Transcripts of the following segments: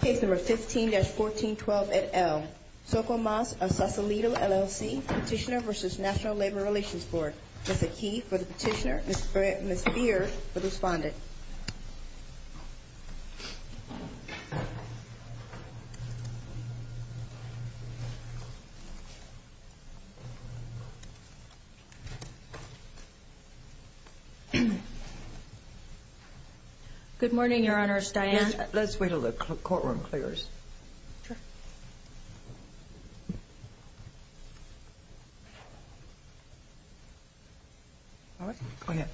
Case number 15-1412 at L. Scomas of Sausalito, LLC, Petitioner v. National Labor Relations Board. Ms. Aki for the Petitioner, Ms. Beard for the Respondent. Good morning, Your Honors, Diane. Yes, let's wait until the courtroom clears. Sure. All right. Go ahead.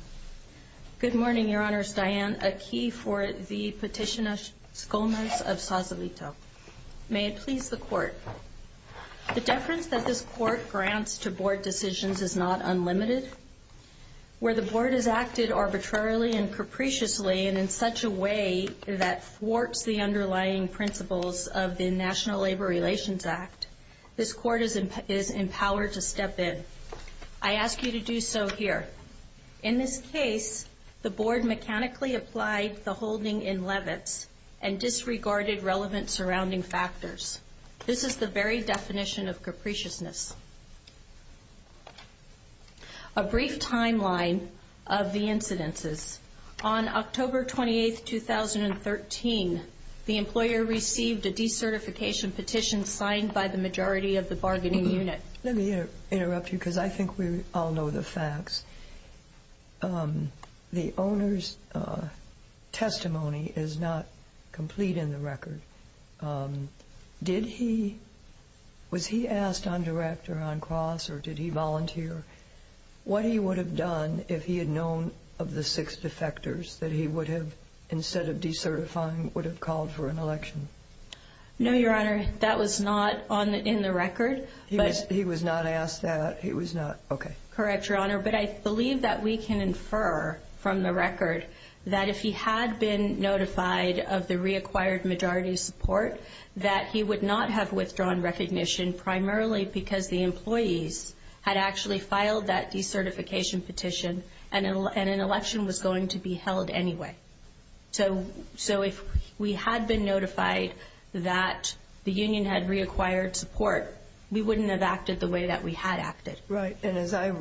Good morning, Your Honors, Diane. Aki for the Petitioner, Ms. Scomas of Sausalito. May it please the Court. The deference that this Court grants to Board decisions is not unlimited. Where the Board has acted arbitrarily and capriciously and in such a way that thwarts the underlying principles of the National Labor Relations Act, this Court is empowered to step in. I ask you to do so here. In this case, the Board mechanically applied the holding in Levitz and disregarded relevant surrounding factors. This is the very definition of capriciousness. A brief timeline of the incidences. On October 28, 2013, the employer received a decertification petition signed by the majority of the bargaining unit. Let me interrupt you because I think we all know the facts. The owner's testimony is not complete in the record. Did he was he asked on direct or on cross or did he volunteer what he would have done if he had known of the six defectors that he would have, instead of decertifying, would have called for an election? No, Your Honor. That was not on in the record. He was he was not asked that he was not. But I believe that we can infer from the record that if he had been notified of the reacquired majority support, that he would not have withdrawn recognition primarily because the employees had actually filed that decertification petition and an election was going to be held anyway. So so if we had been notified that the union had reacquired support, we wouldn't have acted the way that we had acted. Right. And as I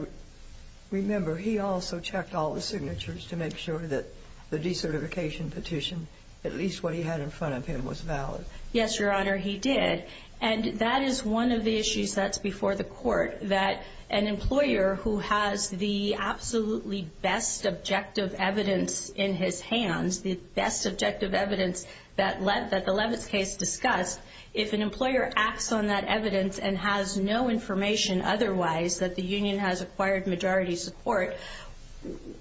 remember, he also checked all the signatures to make sure that the decertification petition, at least what he had in front of him, was valid. Yes, Your Honor. He did. And that is one of the issues that's before the court, that an employer who has the absolutely best objective evidence in his hands, the best objective evidence that led that the Leavitt's case discussed, if an employer acts on that evidence and has no information otherwise that the union has acquired majority support,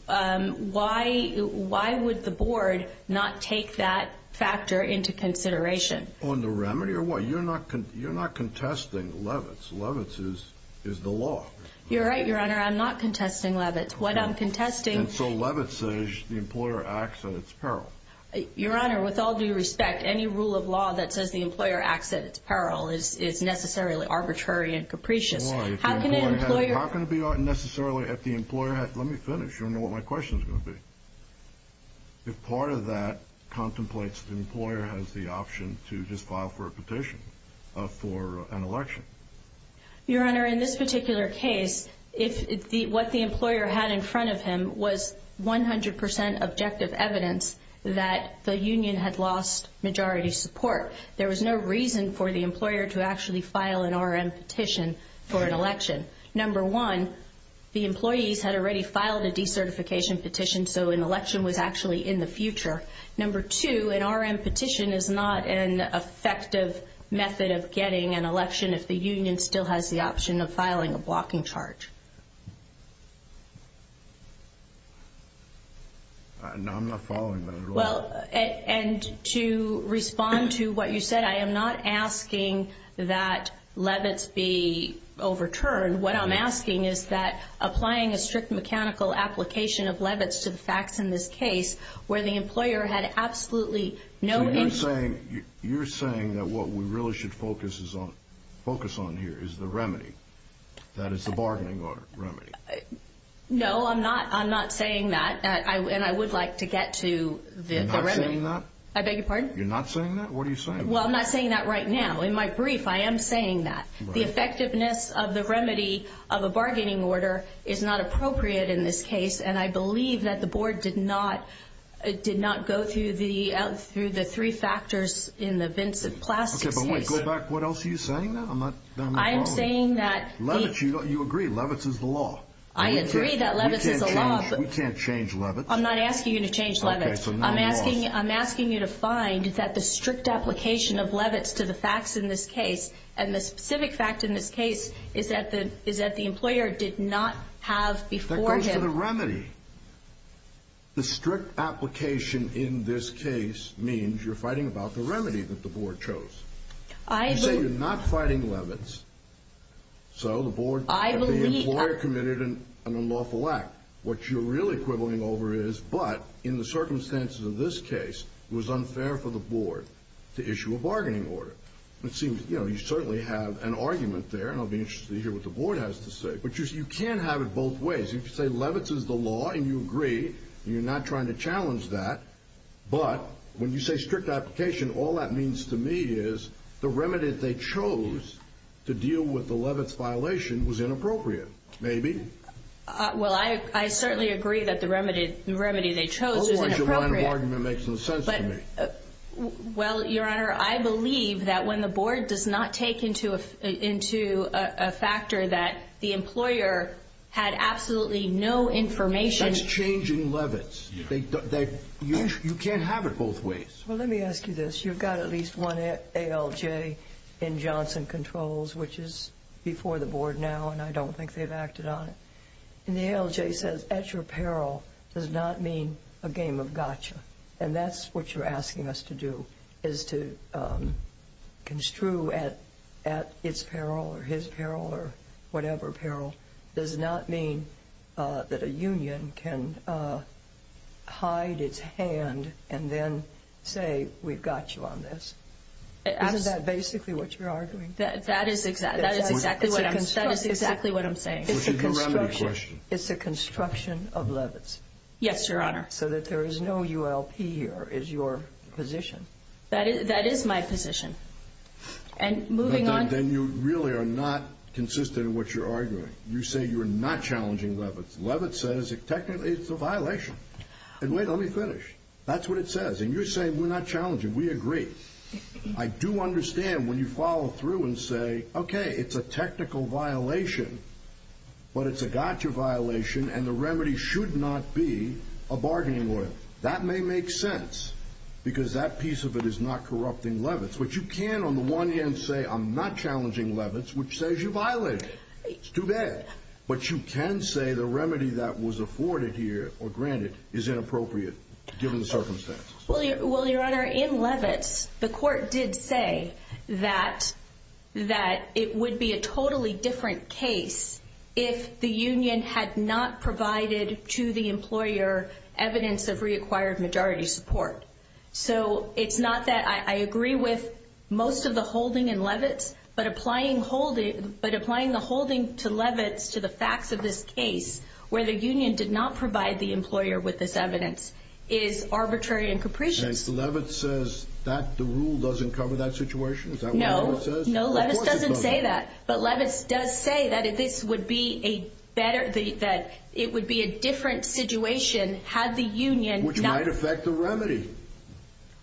why why would the board not take that factor into consideration on the remedy or what? You're not you're not contesting Leavitt's. Leavitt's is is the law. You're right, Your Honor. I'm not contesting Leavitt's. And so Leavitt's says the employer acts at its peril. Your Honor, with all due respect, any rule of law that says the employer acts at its peril is is necessarily arbitrary and capricious. How can an employer... How can it be necessarily if the employer has... Let me finish. You don't know what my question is going to be. If part of that contemplates the employer has the option to just file for a petition for an election. Your Honor, in this particular case, if what the employer had in front of him was 100 percent objective evidence that the union had lost majority support, there was no reason for the employer to actually file an R.M. petition for an election. Number one, the employees had already filed a decertification petition. So an election was actually in the future. Number two, an R.M. petition is not an effective method of getting an election if the union still has the option of filing a blocking charge. No, I'm not following that at all. Well, and to respond to what you said, I am not asking that Leavitt's be overturned. What I'm asking is that applying a strict mechanical application of Leavitt's to the facts in this case where the employer had absolutely no... You're saying that what we really should focus on here is the remedy. That it's a bargaining order remedy. No, I'm not. I'm not saying that. And I would like to get to the remedy. You're not saying that? I beg your pardon? You're not saying that? What are you saying? Well, I'm not saying that right now. In my brief, I am saying that. The effectiveness of the remedy of a bargaining order is not appropriate in this case. And I believe that the board did not go through the three factors in the Vincent Plastics case. Okay, but wait. Go back. What else are you saying? I am saying that... Leavitt's, you agree. Leavitt's is the law. I agree that Leavitt's is the law. We can't change Leavitt's. I'm not asking you to change Leavitt's. Okay, so now you're off. I'm asking you to find that the strict application of Leavitt's to the facts in this case, and the specific fact in this case, is that the employer did not have before him... That goes to the remedy. The strict application in this case means you're fighting about the remedy that the board chose. I believe... You say you're not fighting Leavitt's, so the board... I believe... The employer committed an unlawful act. What you're really quibbling over is, but in the circumstances of this case, it was unfair for the board to issue a bargaining order. It seems, you know, you certainly have an argument there, and I'll be interested to hear what the board has to say. But you can't have it both ways. You can say Leavitt's is the law, and you agree, and you're not trying to challenge that, but when you say strict application, all that means to me is the remedy that they chose to deal with the Leavitt's violation was inappropriate, maybe. Well, I certainly agree that the remedy they chose is inappropriate. Otherwise, your line of argument makes no sense to me. Well, Your Honor, I believe that when the board does not take into a factor that the employer had absolutely no information... That's changing Leavitt's. You can't have it both ways. Well, let me ask you this. You've got at least one ALJ in Johnson Controls, which is before the board now, and I don't think they've acted on it. And the ALJ says at your peril does not mean a game of gotcha, and that's what you're asking us to do is to construe at its peril or his peril or whatever peril does not mean that a union can hide its hand and then say we've got you on this. Isn't that basically what you're arguing? That is exactly what I'm saying. It's the construction of Leavitt's. Yes, Your Honor. So that there is no ULP here is your position. That is my position. And moving on... Then you really are not consistent in what you're arguing. You say you're not challenging Leavitt's. Leavitt's says technically it's a violation. And wait, let me finish. That's what it says. And you're saying we're not challenging. We agree. I do understand when you follow through and say, okay, it's a technical violation, but it's a gotcha violation, and the remedy should not be a bargaining oil. That may make sense because that piece of it is not corrupting Leavitt's. But you can on the one hand say I'm not challenging Leavitt's, which says you violated it. It's too bad. But you can say the remedy that was afforded here or granted is inappropriate given the circumstances. Well, Your Honor, in Leavitt's the court did say that it would be a totally different case if the union had not provided to the employer evidence of reacquired majority support. So it's not that I agree with most of the holding in Leavitt's, but applying the holding to Leavitt's to the facts of this case where the union did not provide the employer with this evidence is arbitrary and capricious. And Leavitt's says that the rule doesn't cover that situation? Is that what Leavitt's says? No. No, Leavitt's doesn't say that. But Leavitt's does say that it would be a different situation had the union not. Which might affect the remedy.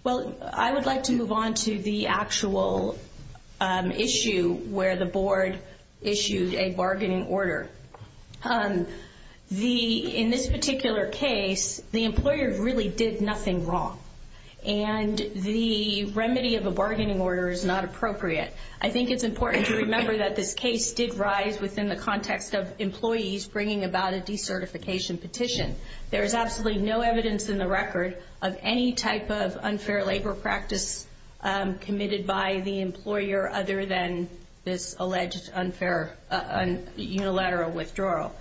Well, I would like to move on to the actual issue where the board issued a bargaining order. In this particular case, the employer really did nothing wrong, and the remedy of a bargaining order is not appropriate. I think it's important to remember that this case did rise within the context of employees bringing about a decertification petition. There is absolutely no evidence in the record of any type of unfair labor practice committed by the employer other than this alleged unfair unilateral withdrawal.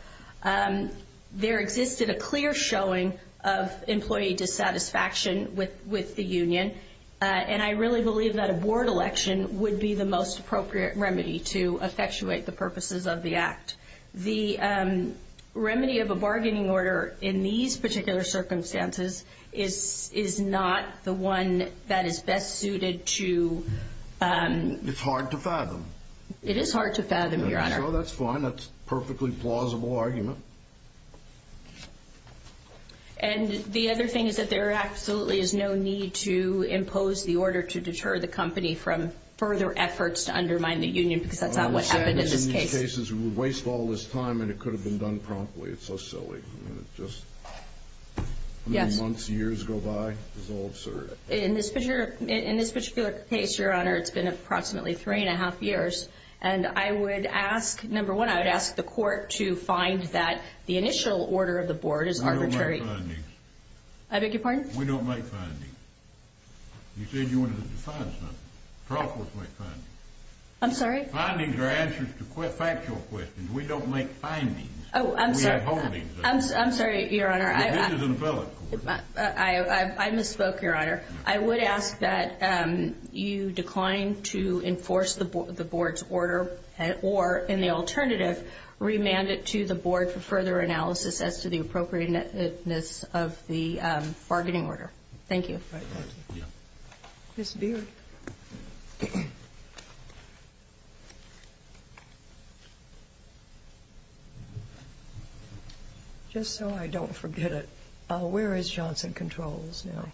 There existed a clear showing of employee dissatisfaction with the union, and I really believe that a board election would be the most appropriate remedy to effectuate the purposes of the act. The remedy of a bargaining order in these particular circumstances is not the one that is best suited to... It's hard to fathom. It is hard to fathom, Your Honor. That's fine. That's a perfectly plausible argument. And the other thing is that there absolutely is no need to impose the order to deter the company from further efforts to undermine the union because that's not what happened in this case. In most cases, we would waste all this time, and it could have been done promptly. It's so silly. I mean, it's just... Yes. How many months, years go by? It's all absurd. In this particular case, Your Honor, it's been approximately three and a half years, and I would ask, number one, I would ask the court to find that the initial order of the board is arbitrary. We don't make findings. I beg your pardon? We don't make findings. You said you wanted to define something. Profits make findings. I'm sorry? Findings are answers to factual questions. We don't make findings. Oh, I'm sorry. We have holdings. I'm sorry, Your Honor. This is an appellate court. I misspoke, Your Honor. I would ask that you decline to enforce the board's order or, in the alternative, remand it to the board for further analysis as to the appropriateness of the bargaining order. Thank you. Ms. Beard. Just so I don't forget it, where is Johnson Controls now?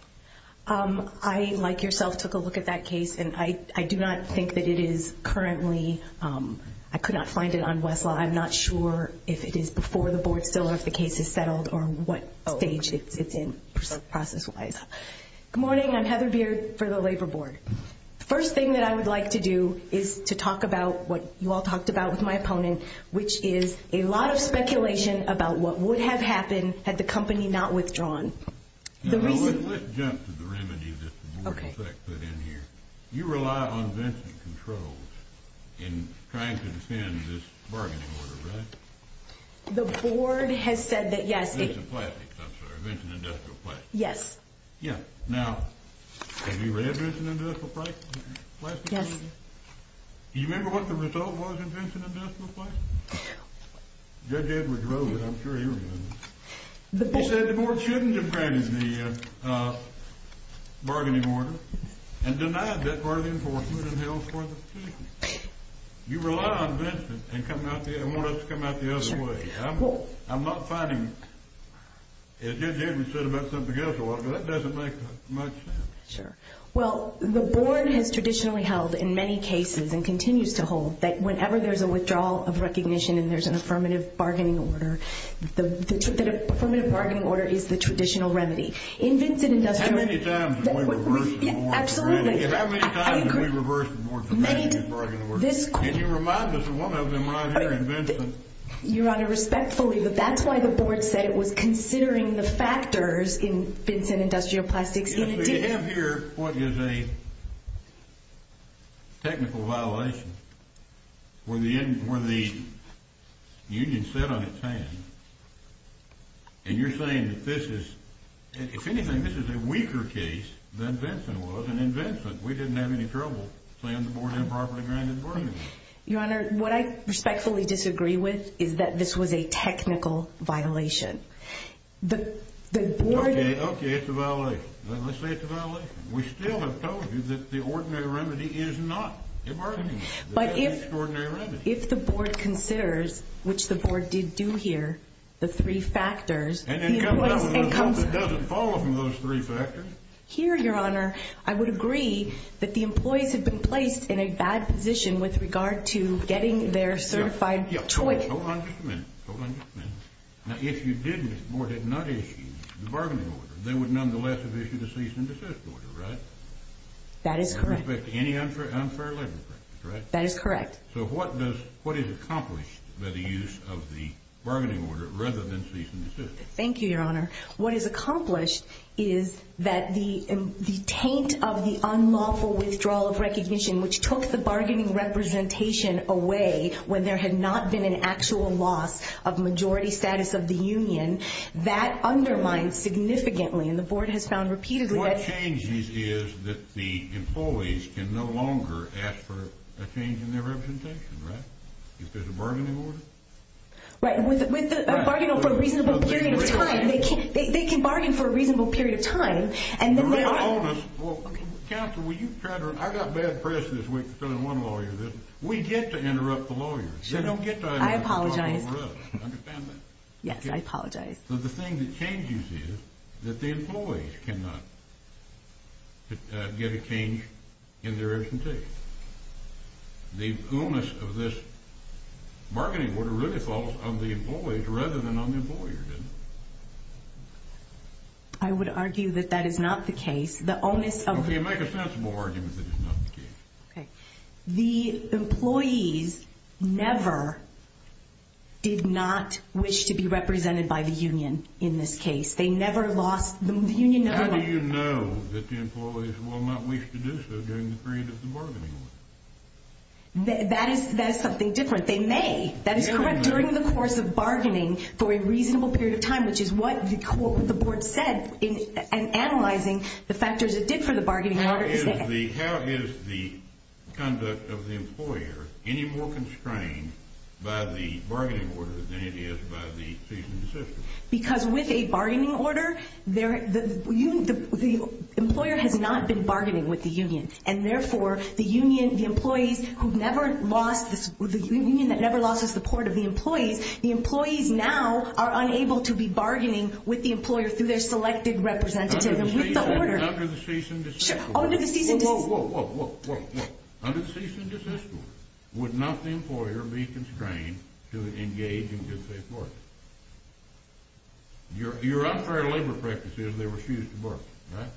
I, like yourself, took a look at that case, and I do not think that it is currently. I could not find it on Westlaw. I'm not sure if it is before the board still or if the case is settled or what stage it's in process-wise. Good morning. I'm Heather Beard for the Labor Board. The first thing that I would like to do is to talk about what you all talked about with my opponent, which is a lot of speculation about what would have happened had the company not withdrawn. Let's jump to the remedy that the board in effect put in here. You rely on Vincent Controls in trying to defend this bargaining order, right? The board has said that, yes. Vincent Plastics, I'm sorry. Vincent Industrial Plastics. Yes. Yeah. Now, have you read Vincent Industrial Plastics? Yes. Do you remember what the result was in Vincent Industrial Plastics? Judge Edwards wrote it. I'm sure he remembers. He said the board shouldn't have granted the bargaining order and denied that part of the enforcement and held forth the petition. You rely on Vincent and want us to come out the other way. I'm not finding, as Judge Edwards said about something else, but that doesn't make much sense. Sure. Well, the board has traditionally held in many cases and continues to hold that whenever there's a withdrawal of recognition and there's an affirmative bargaining order, the affirmative bargaining order is the traditional remedy. In Vincent Industrial Plastics— How many times did we reverse the board's opinion? Absolutely. How many times did we reverse the board's opinion? Can you remind us of one of them right here in Vincent? Your Honor, respectfully, that's why the board said it was considering the factors in Vincent Industrial Plastics. Yes, but you have here what is a technical violation where the union said on its hand, and you're saying that this is—if anything, this is a weaker case than Vincent was. And in Vincent, we didn't have any trouble saying the board improperly granted bargaining. Your Honor, what I respectfully disagree with is that this was a technical violation. Okay, it's a violation. Let's say it's a violation. We still have told you that the ordinary remedy is not a bargaining. But if the board considers, which the board did do here, the three factors— And it comes out with a result that doesn't follow from those three factors. Here, Your Honor, I would agree that the employees have been placed in a bad position with regard to getting their certified choice. Hold on just a minute. Hold on just a minute. Now, if you didn't, if the board had not issued the bargaining order, they would nonetheless have issued a cease and desist order, right? That is correct. And respect any unfair labor practice, right? That is correct. So what is accomplished by the use of the bargaining order rather than cease and desist? Thank you, Your Honor. What is accomplished is that the taint of the unlawful withdrawal of recognition, which took the bargaining representation away when there had not been an actual loss of majority status of the union, that undermines significantly, and the board has found repeatedly that— What changes is that the employees can no longer ask for a change in their representation, right? If there's a bargaining order? Right, with a bargaining order for a reasonable period of time. They can bargain for a reasonable period of time, and then— Counsel, will you try to—I got bad press this week from one lawyer. We get to interrupt the lawyers. They don't get to— I apologize. Understand that? Yes, I apologize. So the thing that changes is that the employees cannot get a change in their representation. The onus of this bargaining order really falls on the employees rather than on the employer, doesn't it? I would argue that that is not the case. The onus of— Okay, make a sensible argument that it's not the case. Okay. The employees never did not wish to be represented by the union in this case. They never lost—the union never— How do you know that the employees will not wish to do so during the period of the bargaining order? That is something different. They may. That is correct. During the course of bargaining for a reasonable period of time, which is what the board said in analyzing the factors it did for the bargaining order. How is the conduct of the employer any more constrained by the bargaining order than it is by the season decision? Because with a bargaining order, the employer has not been bargaining with the union, and therefore, the union—the employees who never lost—the union that never lost the support of the employees, the employees now are unable to be bargaining with the employer through their selected representative. Under the season— Sure. Under the season— Whoa, whoa, whoa. Under the season decision, would not the employer be constrained to engage in good, safe work? Your unfair labor practices, they refuse to work, right?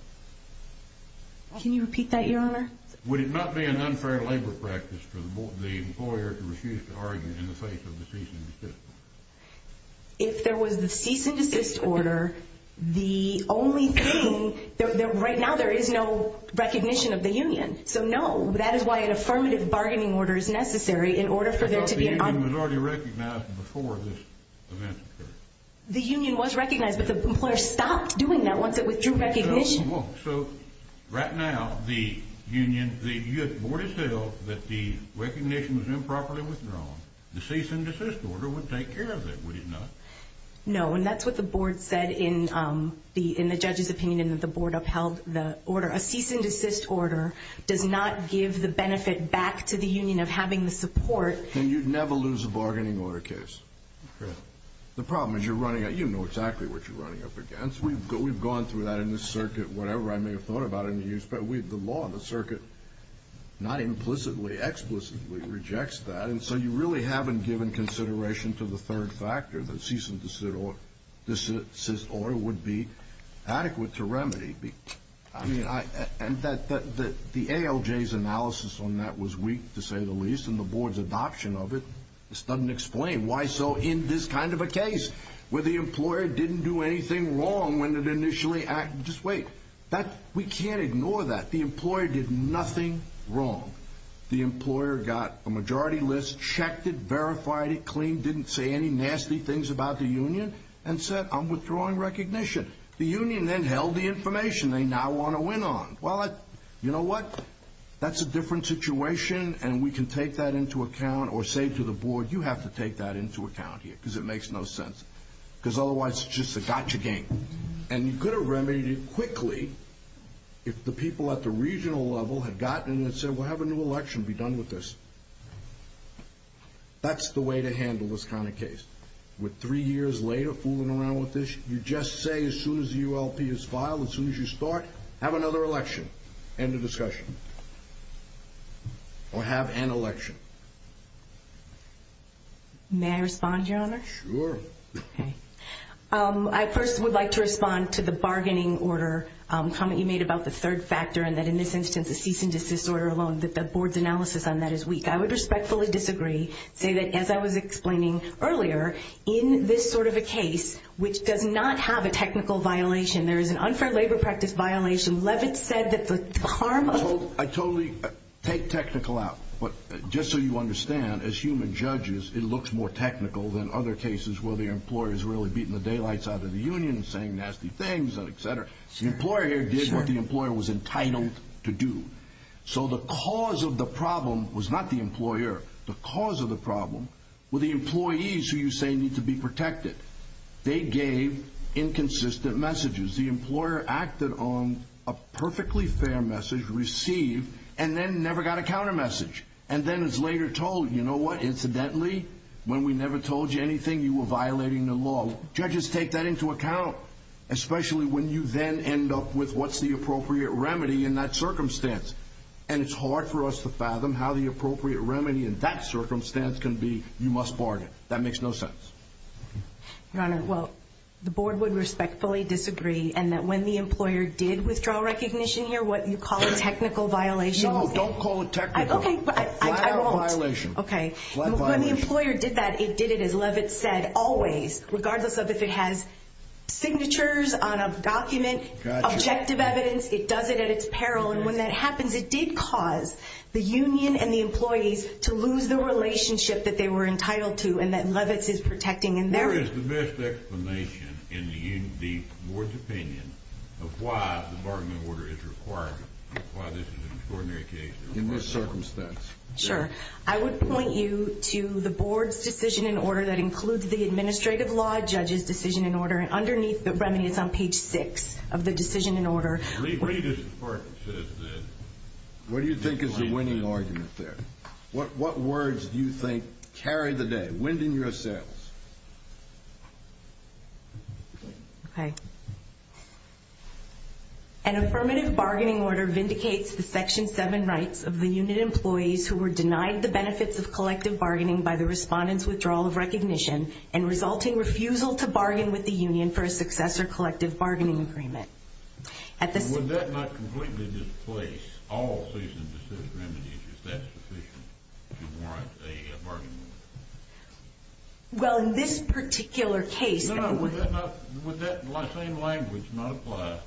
Can you repeat that, Your Honor? Would it not be an unfair labor practice for the employer to refuse to argue in the face of the season decision? If there was the cease and desist order, the only thing—right now, there is no recognition of the union. So, no, that is why an affirmative bargaining order is necessary in order for there to be— I thought the union was already recognized before this event occurred. The union was recognized, but the employer stopped doing that once it withdrew recognition. So, right now, the union—the board has held that the recognition was improperly withdrawn. The cease and desist order would take care of that, would it not? No, and that's what the board said in the judge's opinion, that the board upheld the order. A cease and desist order does not give the benefit back to the union of having the support. And you'd never lose a bargaining order case. Correct. The problem is you're running—you know exactly what you're running up against. We've gone through that in this circuit, whatever I may have thought about in the years. But the law of the circuit not implicitly, explicitly rejects that. And so you really haven't given consideration to the third factor, that a cease and desist order would be adequate to remedy. I mean, I—and the ALJ's analysis on that was weak, to say the least. And the board's adoption of it, this doesn't explain why so in this kind of a case, where the employer didn't do anything wrong when it initially—just wait. That—we can't ignore that. The employer did nothing wrong. The employer got a majority list, checked it, verified it clean, didn't say any nasty things about the union, and said, I'm withdrawing recognition. The union then held the information they now want to win on. Well, you know what? That's a different situation, and we can take that into account. Or say to the board, you have to take that into account here, because it makes no sense. Because otherwise it's just a gotcha game. And you could have remedied it quickly if the people at the regional level had gotten it and said, well, have a new election, be done with this. That's the way to handle this kind of case. With three years later fooling around with this, you just say as soon as the ULP is filed, as soon as you start, have another election. End of discussion. Or have an election. May I respond, Your Honor? Sure. Okay. I first would like to respond to the bargaining order comment you made about the third factor and that in this instance the cease and desist order alone, that the board's analysis on that is weak. I would respectfully disagree, say that as I was explaining earlier, in this sort of a case which does not have a technical violation, there is an unfair labor practice violation. Levitt said that the harm of I totally take technical out. But just so you understand, as human judges, it looks more technical than other cases where the employer's really beating the daylights out of the union, saying nasty things, et cetera. The employer here did what the employer was entitled to do. So the cause of the problem was not the employer. The cause of the problem were the employees who you say need to be protected. They gave inconsistent messages. The employer acted on a perfectly fair message, received, and then never got a counter message. And then is later told, you know what, incidentally, when we never told you anything, you were violating the law. Judges take that into account, especially when you then end up with what's the appropriate remedy in that circumstance. And it's hard for us to fathom how the appropriate remedy in that circumstance can be, you must bargain. That makes no sense. Your Honor, well, the board would respectfully disagree, and that when the employer did withdraw recognition here, what you call a technical violation. No, don't call it technical. Okay, but I won't. Flat out violation. Okay. Flat violation. When the employer did that, it did it, as Levitt said, always, regardless of if it has signatures on a document, objective evidence, it does it at its peril. And when that happens, it did cause the union and the employees to lose the relationship that they were entitled to and that Levitt is protecting. What is the best explanation in the board's opinion of why the bargaining order is required, why this is an extraordinary case in this circumstance? Sure. I would point you to the board's decision in order that includes the administrative law, judges' decision in order, and underneath the remedy, it's on page 6 of the decision in order. What do you think is the winning argument there? What words do you think carry the day? Wind in your sails. Okay. An affirmative bargaining order vindicates the Section 7 rights of the unit employees who were denied the benefits of collective bargaining by the respondent's withdrawal of recognition and resulting refusal to bargain with the union for a successor collective bargaining agreement. Would that not completely displace all cease and desist remedies? Is that sufficient to warrant a bargaining order? Well, in this particular case... No, no. Would that same language not apply?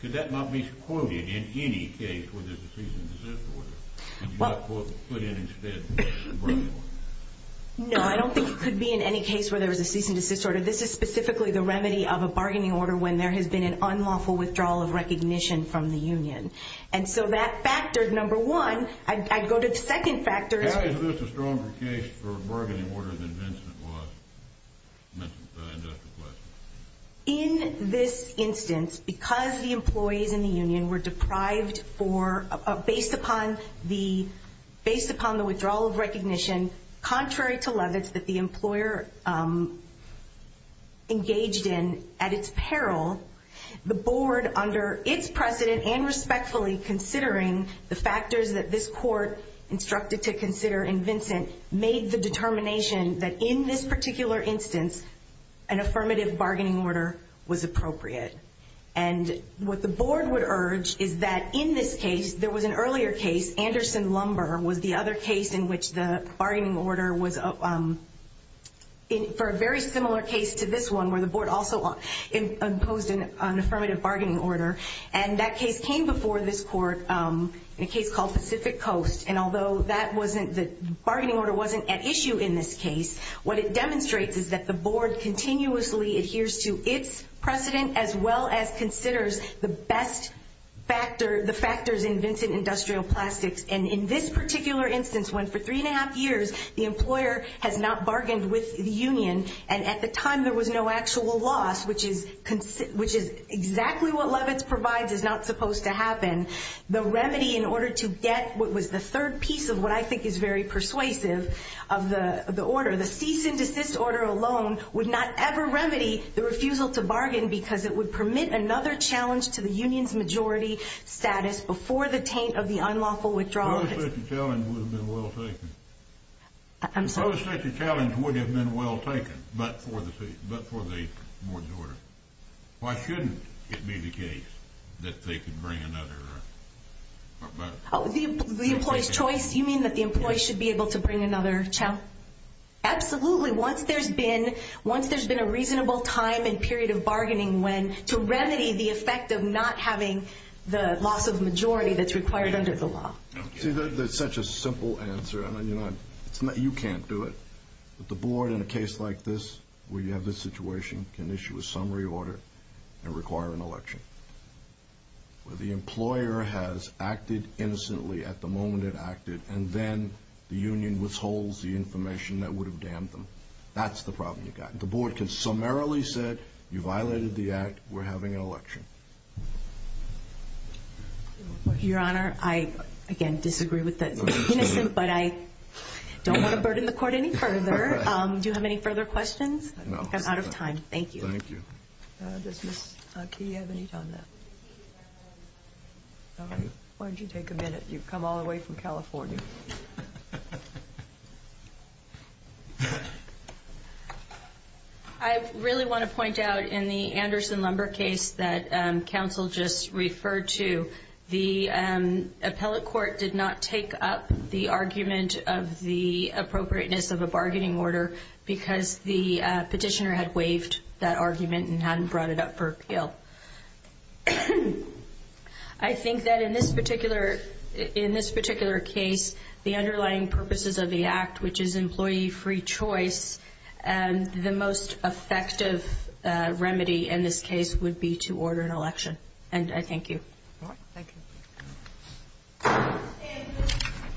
Could that not be quoted in any case where there's a cease and desist order? And should I put in instead a bargaining order? No, I don't think it could be in any case where there's a cease and desist order. This is specifically the remedy of a bargaining order when there has been an unlawful withdrawal of recognition from the union. And so that factored, number one. I'd go to the second factor. Is this a stronger case for a bargaining order than Vincent was? In this instance, because the employees in the union were deprived for, based upon the withdrawal of recognition, contrary to Levitz that the employer engaged in at its peril, the board, under its precedent and respectfully considering the factors that this court instructed to consider in Vincent, made the determination that in this particular instance an affirmative bargaining order was appropriate. And what the board would urge is that in this case, there was an earlier case, Anderson Lumber was the other case in which the bargaining order was for a very similar case to this one, where the board also imposed an affirmative bargaining order. And that case came before this court in a case called Pacific Coast. And although the bargaining order wasn't at issue in this case, what it demonstrates is that the board continuously adheres to its precedent as well as considers the best factor, the factors in Vincent Industrial Plastics. And in this particular instance, when for three and a half years the employer has not bargained with the union, and at the time there was no actual loss, which is exactly what Levitz provides is not supposed to happen, the remedy in order to get what was the third piece of what I think is very persuasive of the order, the cease and desist order alone would not ever remedy the refusal to bargain because it would permit another challenge to the union's majority status before the taint of the unlawful withdrawal. The post-60 challenge would have been well taken. I'm sorry? The post-60 challenge would have been well taken, but for the majority. Why shouldn't it be the case that they could bring another? Oh, the employee's choice? You mean that the employee should be able to bring another challenge? Absolutely. Once there's been a reasonable time and period of bargaining when to remedy the effect of not having the loss of majority that's required under the law. See, that's such a simple answer. I mean, you can't do it. But the board in a case like this where you have this situation can issue a summary order and require an election. The employer has acted innocently at the moment it acted, and then the union withholds the information that would have damned them. That's the problem you've got. The board can summarily say, you violated the act, we're having an election. Your Honor, I, again, disagree with that. It's innocent, but I don't want to burden the court any further. Do you have any further questions? No. I'm out of time. Thank you. Thank you. Does Ms. Key have any time left? All right. Why don't you take a minute? You've come all the way from California. I really want to point out in the Anderson-Lumber case that counsel just referred to, the appellate court did not take up the argument of the appropriateness of a bargaining order because the petitioner had waived that argument and hadn't brought it up for appeal. I think that in this particular case, the underlying purposes of the act, which is employee-free choice, the most effective remedy in this case would be to order an election. And I thank you. All right. Thank you.